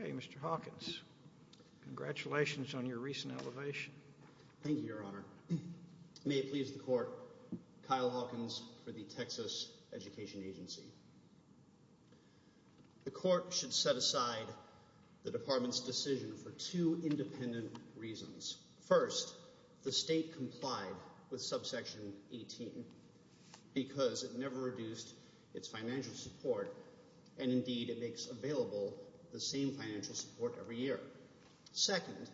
OK, Mr. Hawkins, congratulations on your recent elevation. Thank you, Your Honor. May it please the court, Kyle Hawkins for the Texas Education Agency. The court should set aside the department's decision for two independent reasons. First, the state complied with subsection 18 because it never reduced its financial support. And indeed, it makes available the same financial support every year. Second,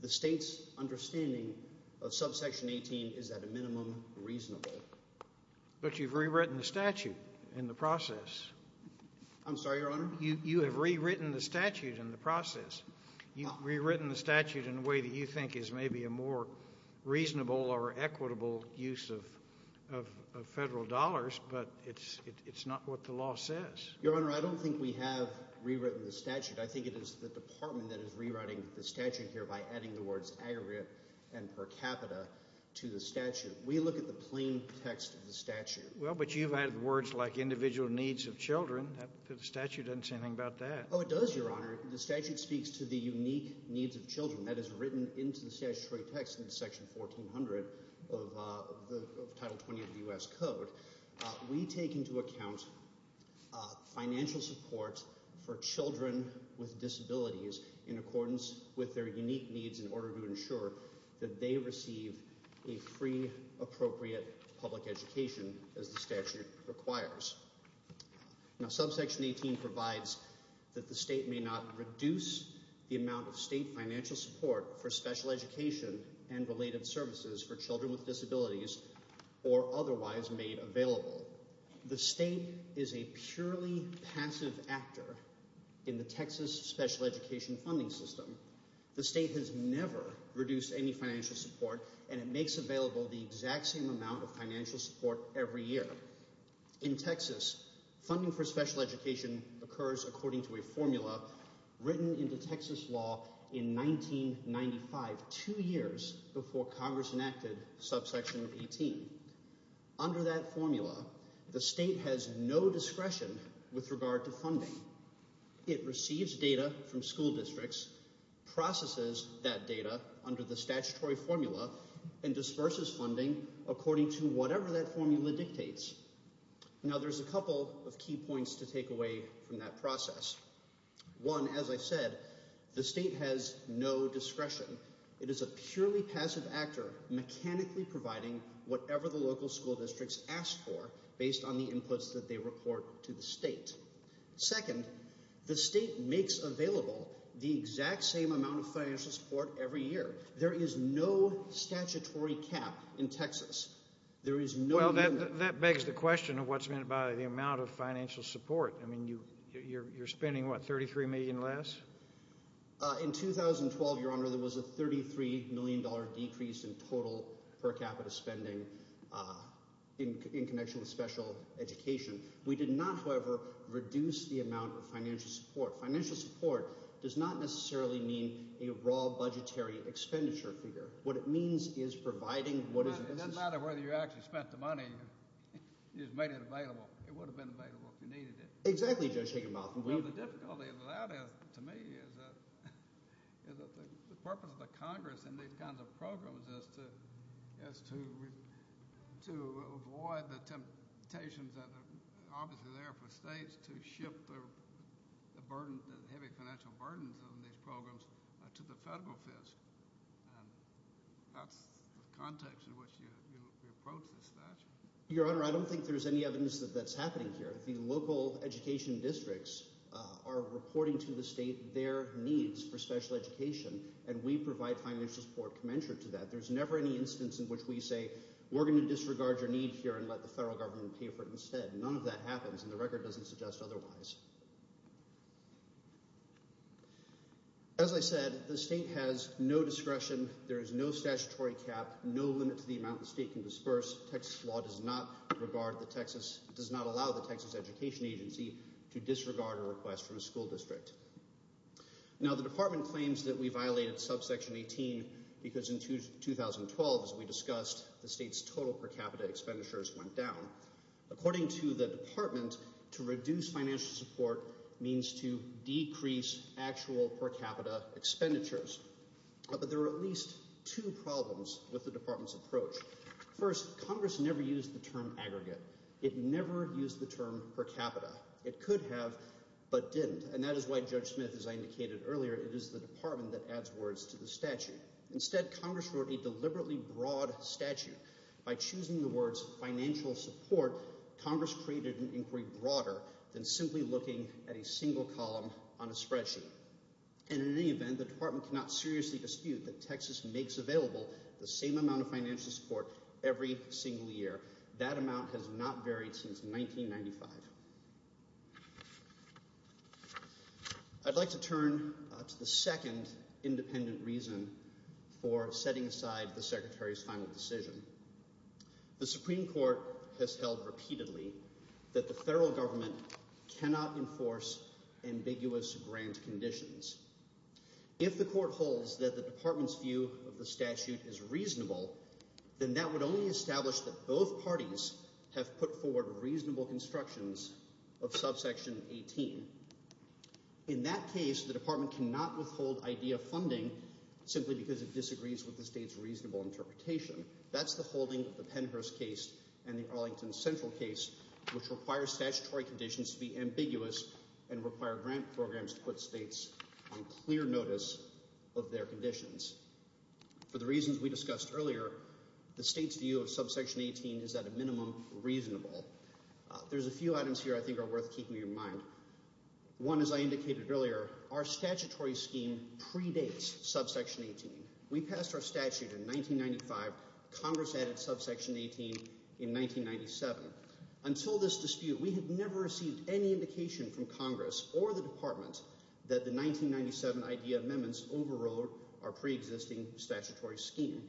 the state's understanding of subsection 18 is at a minimum reasonable. But you've rewritten the statute in the process. I'm sorry, Your Honor. You have rewritten the statute in the process. You've rewritten the statute in a way that you think is maybe a more reasonable or reasonable way to do what the law says. Your Honor, I don't think we have rewritten the statute. I think it is the department that is rewriting the statute here by adding the words aggregate and per capita to the statute. We look at the plain text of the statute. Well, but you've added words like individual needs of children. The statute doesn't say anything about that. Oh, it does, Your Honor. The statute speaks to the unique needs of children. That is written into the statutory text in Section 1400 of the Title 20 of the U.S. financial support for children with disabilities in accordance with their unique needs in order to ensure that they receive a free, appropriate public education as the statute requires. Now, subsection 18 provides that the state may not reduce the amount of state financial support for special education and related services for children with disabilities or otherwise made available. The state is a purely passive actor in the Texas special education funding system. The state has never reduced any financial support and it makes available the exact same amount of financial support every year. In Texas, funding for special education occurs according to a formula written into Texas law in 1995, two years before Congress enacted subsection 18. Under that formula, the state has no discretion with regard to funding. It receives data from school districts, processes that data under the statutory formula and disperses funding according to whatever that formula dictates. Now, there's a couple of key points to take away from that process. One, as I said, the state has no discretion. It is a purely passive actor, mechanically providing whatever the local school districts ask for based on the inputs that they report to the state. Second, the state makes available the exact same amount of financial support every year. There is no statutory cap in Texas. There is no... Well, that begs the question of what's meant by the amount of financial support. I mean, you're spending, what, 33 million less? In 2012, Your Honor, there was a 33 million dollar decrease in total per capita spending in connection with special education. We did not, however, reduce the amount of financial support. Financial support does not necessarily mean a raw budgetary expenditure figure. What it means is providing what is... It doesn't matter whether you actually spent the money, you just made it available. It would have been available if you needed it. Exactly, Judge Higginbotham. Well, the difficulty of that is, to me, is that the purpose of the Congress and these kinds of programs is to avoid the temptations that are obviously there for states to shift the burden, the heavy financial burdens of these programs to the federal fiscal. And that's the context in which you approach this statute. Your Honor, I don't think there's any evidence that that's happening here. The local education districts are reporting to the state their needs for special education, and we provide financial support commensurate to that. There's never any instance in which we say, we're going to disregard your need here and let the federal government pay for it instead. None of that happens, and the record doesn't suggest otherwise. As I said, the state has no discretion. There is no statutory cap, no limit to the amount the state can disperse. Texas law does not regard the Texas, does not allow the Texas Education Agency to disregard a request from a school district. Now, the Department claims that we violated subsection 18 because in 2012, as we discussed, the state's total per capita expenditures went down. According to the Department, to reduce financial support means to decrease actual per capita expenditures. But there are at least two problems with the Department's approach. First, Congress never used the term aggregate. It never used the term per capita. It could have, but didn't, and that is why Judge Smith, as I indicated earlier, it is the Department that adds words to the statute. Instead, Congress wrote a deliberately broad statute. By choosing the words financial support, Congress created an inquiry broader than simply looking at a single column on a spreadsheet. And in any event, the Department cannot seriously dispute that Texas makes available the same amount of financial support every single year. That amount has not varied since 1995. I'd like to turn to the second independent reason for setting aside the Secretary's final decision. The Supreme Court has held repeatedly that the federal government cannot enforce ambiguous grant conditions. If the court holds that the Department's view of the statute is reasonable, then that would only establish that both parties have put forward reasonable constructions of subsection 18. In that case, the Department cannot withhold IDEA funding simply because it disagrees with the state's reasonable interpretation. That's the holding of the Pennhurst case and the Arlington Central case, which requires statutory conditions to be ambiguous and require grant programs to put states on clear notice of their conditions. For the reasons we discussed earlier, the state's view of subsection 18 is at a minimum reasonable. There's a few items here I think are worth keeping in mind. One, as I indicated earlier, our statutory scheme predates subsection 18. We passed our statute in 1995. Congress added subsection 18 in 1997. Until this dispute, we have never received any indication from Congress or the Department that the 1997 IDEA amendments overrode our preexisting statutory scheme.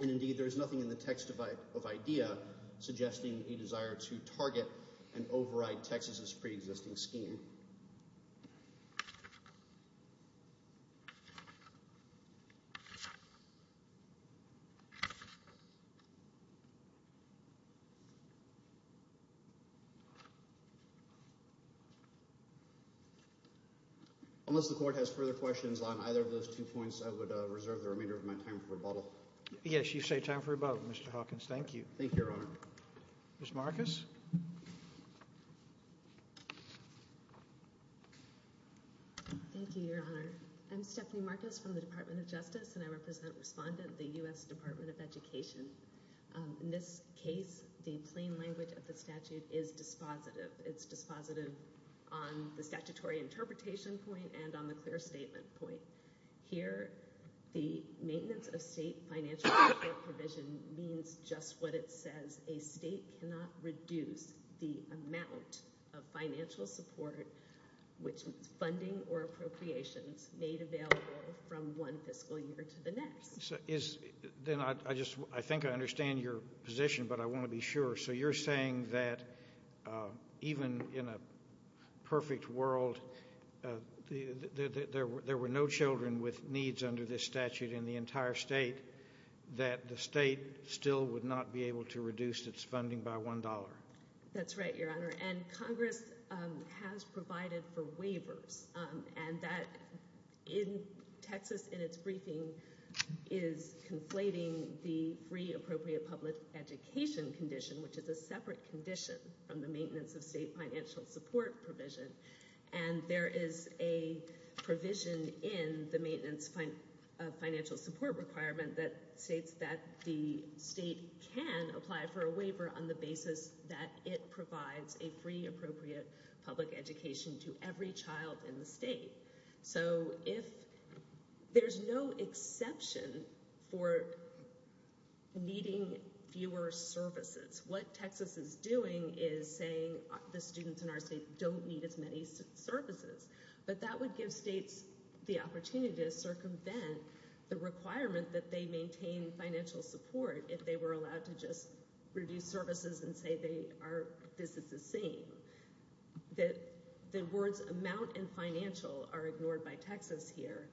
And indeed, there is nothing in the text of IDEA suggesting a desire to target and override Texas's preexisting scheme. Unless the court has further questions on either of those two points, I would reserve the remainder of my time for rebuttal. Yes, you say time for rebuttal, Mr. Hawkins. Thank you. Thank you, Your Honor. Ms. Marcus. Thank you, Your Honor. I'm Stephanie Marcus from the Department of Justice, and I represent Respondent, the U.S. Department of Education. The statement of the statute is dispositive. It's dispositive on the statutory interpretation point and on the clear statement point. Here, the maintenance of state financial support provision means just what it says. A state cannot reduce the amount of financial support, which is funding or appropriations, made available from one fiscal year to the next. So is then I just I think I understand your position, but I want to be sure. So you're saying that even in a perfect world, there were no children with needs under this statute in the entire state, that the state still would not be able to reduce its funding by one dollar. That's right, Your Honor. And Congress has provided for waivers and that in Texas in its briefing is conflating the free appropriate public education condition, which is a separate condition from the maintenance of state financial support provision. And there is a provision in the maintenance financial support requirement that states that the state can apply for a waiver on the basis that it provides a free appropriate public education to every child in the state. So if there's no exception for. Needing fewer services, what Texas is doing is saying the students in our state don't need as many services, but that would give states the opportunity to circumvent the requirement that they maintain financial support if they were allowed to just reduce services and say they are. This is the same that the words amount and financial are ignored by Texas here.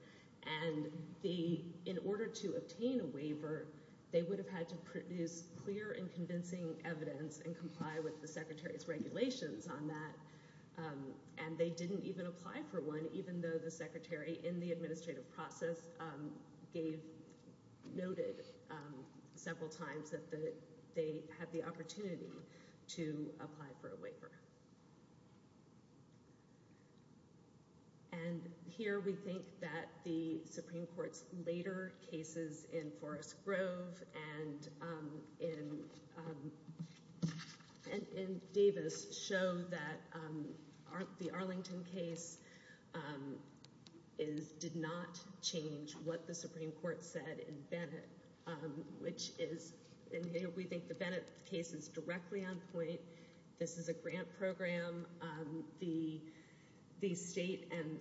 And the in order to obtain a waiver, they would have had to produce clear and convincing evidence and comply with the secretary's regulations on that. And they didn't even apply for one, even though the secretary in the administrative process gave noted several times that they had the opportunity to apply for a waiver. And here we think that the Supreme Court's later cases in Forrest Grove and in and in Davis show that the Arlington case is did not change what the Supreme Court said in Bennett, which is and we think the Bennett case is directly on point. This is a grant from the Supreme Court. The program, the the state and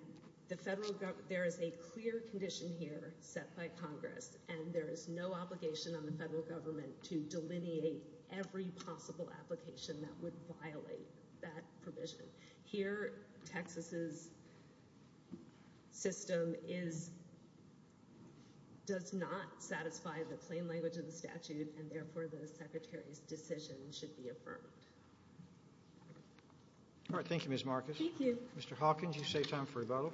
the federal government, there is a clear condition here set by Congress, and there is no obligation on the federal government to delineate every possible application that would violate that provision. Here, Texas's system is. Does not satisfy the plain language of the statute, and therefore the secretary's decision should be affirmed. All right. Thank you, Ms. Marcus. Thank you, Mr. Hawkins. You say time for rebuttal.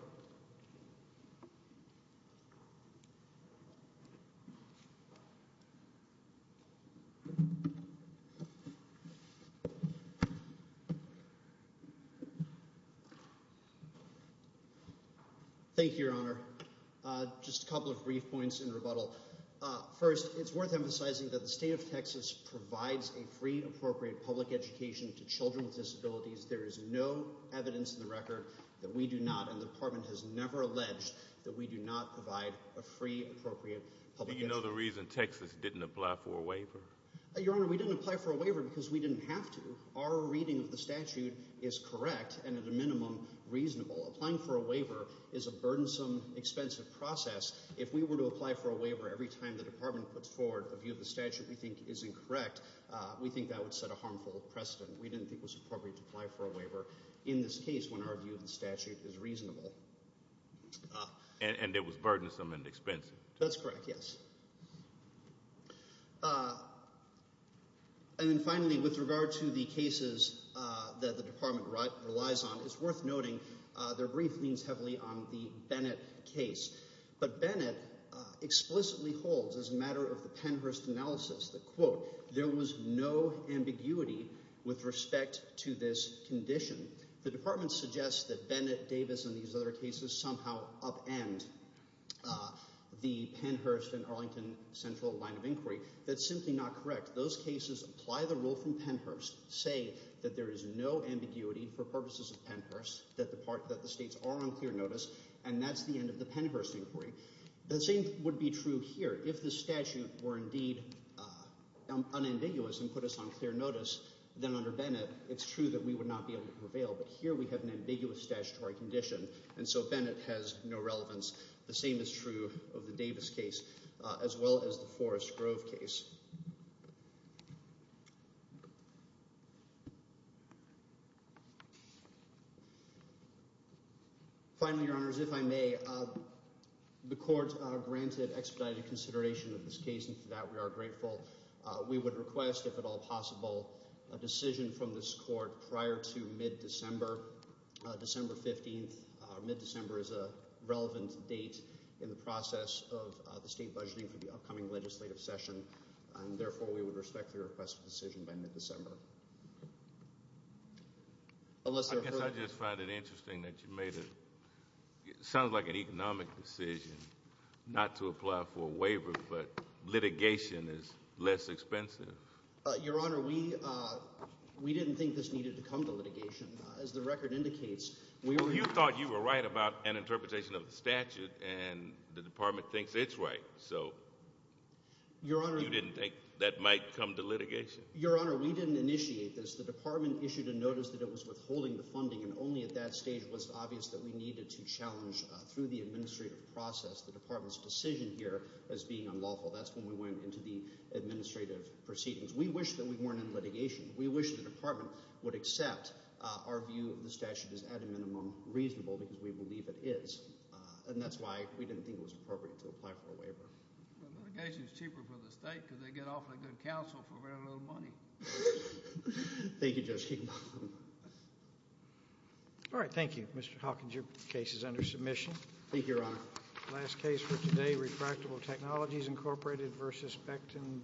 Thank you, Your Honor. Just a couple of brief points in rebuttal. First, it's worth emphasizing that the state of Texas provides a free, appropriate public education to children with disabilities. There is no evidence in the record that we do not. And the department has never alleged that we do not provide a free, appropriate public. You know, the reason Texas didn't apply for a waiver? Your Honor, we didn't apply for a waiver because we didn't have to. Our reading of the statute is correct and at a minimum reasonable. Applying for a waiver is a burdensome, expensive process. If we were to apply for a waiver every time the department puts forward a view of the statute we think is incorrect, we think that would set a harmful precedent. We didn't think it was appropriate to apply for a waiver in this case when our view of the statute is reasonable. And it was burdensome and expensive. That's correct. Yes. And then finally, with regard to the cases that the department relies on, it's worth noting their brief leans heavily on the Bennett case. But Bennett explicitly holds, as a matter of the Pennhurst analysis, that, quote, there was no ambiguity with respect to this condition. The department suggests that Bennett, Davis and these other cases somehow upend the Pennhurst and Arlington Central line of inquiry. That's simply not correct. Those cases apply the rule from Pennhurst, say that there is no ambiguity for purposes of Pennhurst, that the states are on clear notice. And that's the end of the Pennhurst inquiry. The same would be true here. If the statute were indeed unambiguous and put us on clear notice, then under Bennett, it's true that we would not be able to prevail. But here we have an ambiguous statutory condition. And so Bennett has no relevance. The same is true of the Davis case, as well as the Forest Grove case. Finally, your honors, if I may, the court granted expedited consideration of this case, and for that we are grateful. We would request, if at all possible, a decision from this court prior to mid-December, December 15th. Mid-December is a relevant date in the process of the state budgeting make a decision prior to mid-December, December 15th. And therefore, we would respect the request of decision by mid-December. Unless I guess I just find it interesting that you made it sounds like an economic decision not to apply for a waiver, but litigation is less expensive. Your honor, we we didn't think this needed to come to litigation. As the record indicates, we thought you were right about an interpretation of the statute and the department thinks it's right. So. Your honor, you didn't think that might come to litigation? Your honor, we didn't initiate this. The department issued a notice that it was withholding the funding and only at that stage was obvious that we needed to challenge through the administrative process the department's decision here as being unlawful. That's when we went into the administrative proceedings. We wish that we weren't in litigation. We wish the department would accept our view of the statute as at a minimum reasonable because we believe it is. And that's why we didn't think it was appropriate to apply for a waiver. The litigation is cheaper for the state because they get off a good counsel for very little money. Thank you, Judge. All right, thank you, Mr. Hawkins, your case is under submission. Thank you, your honor. Last case for today, Refractable Technologies, Incorporated versus Spectin, D.A.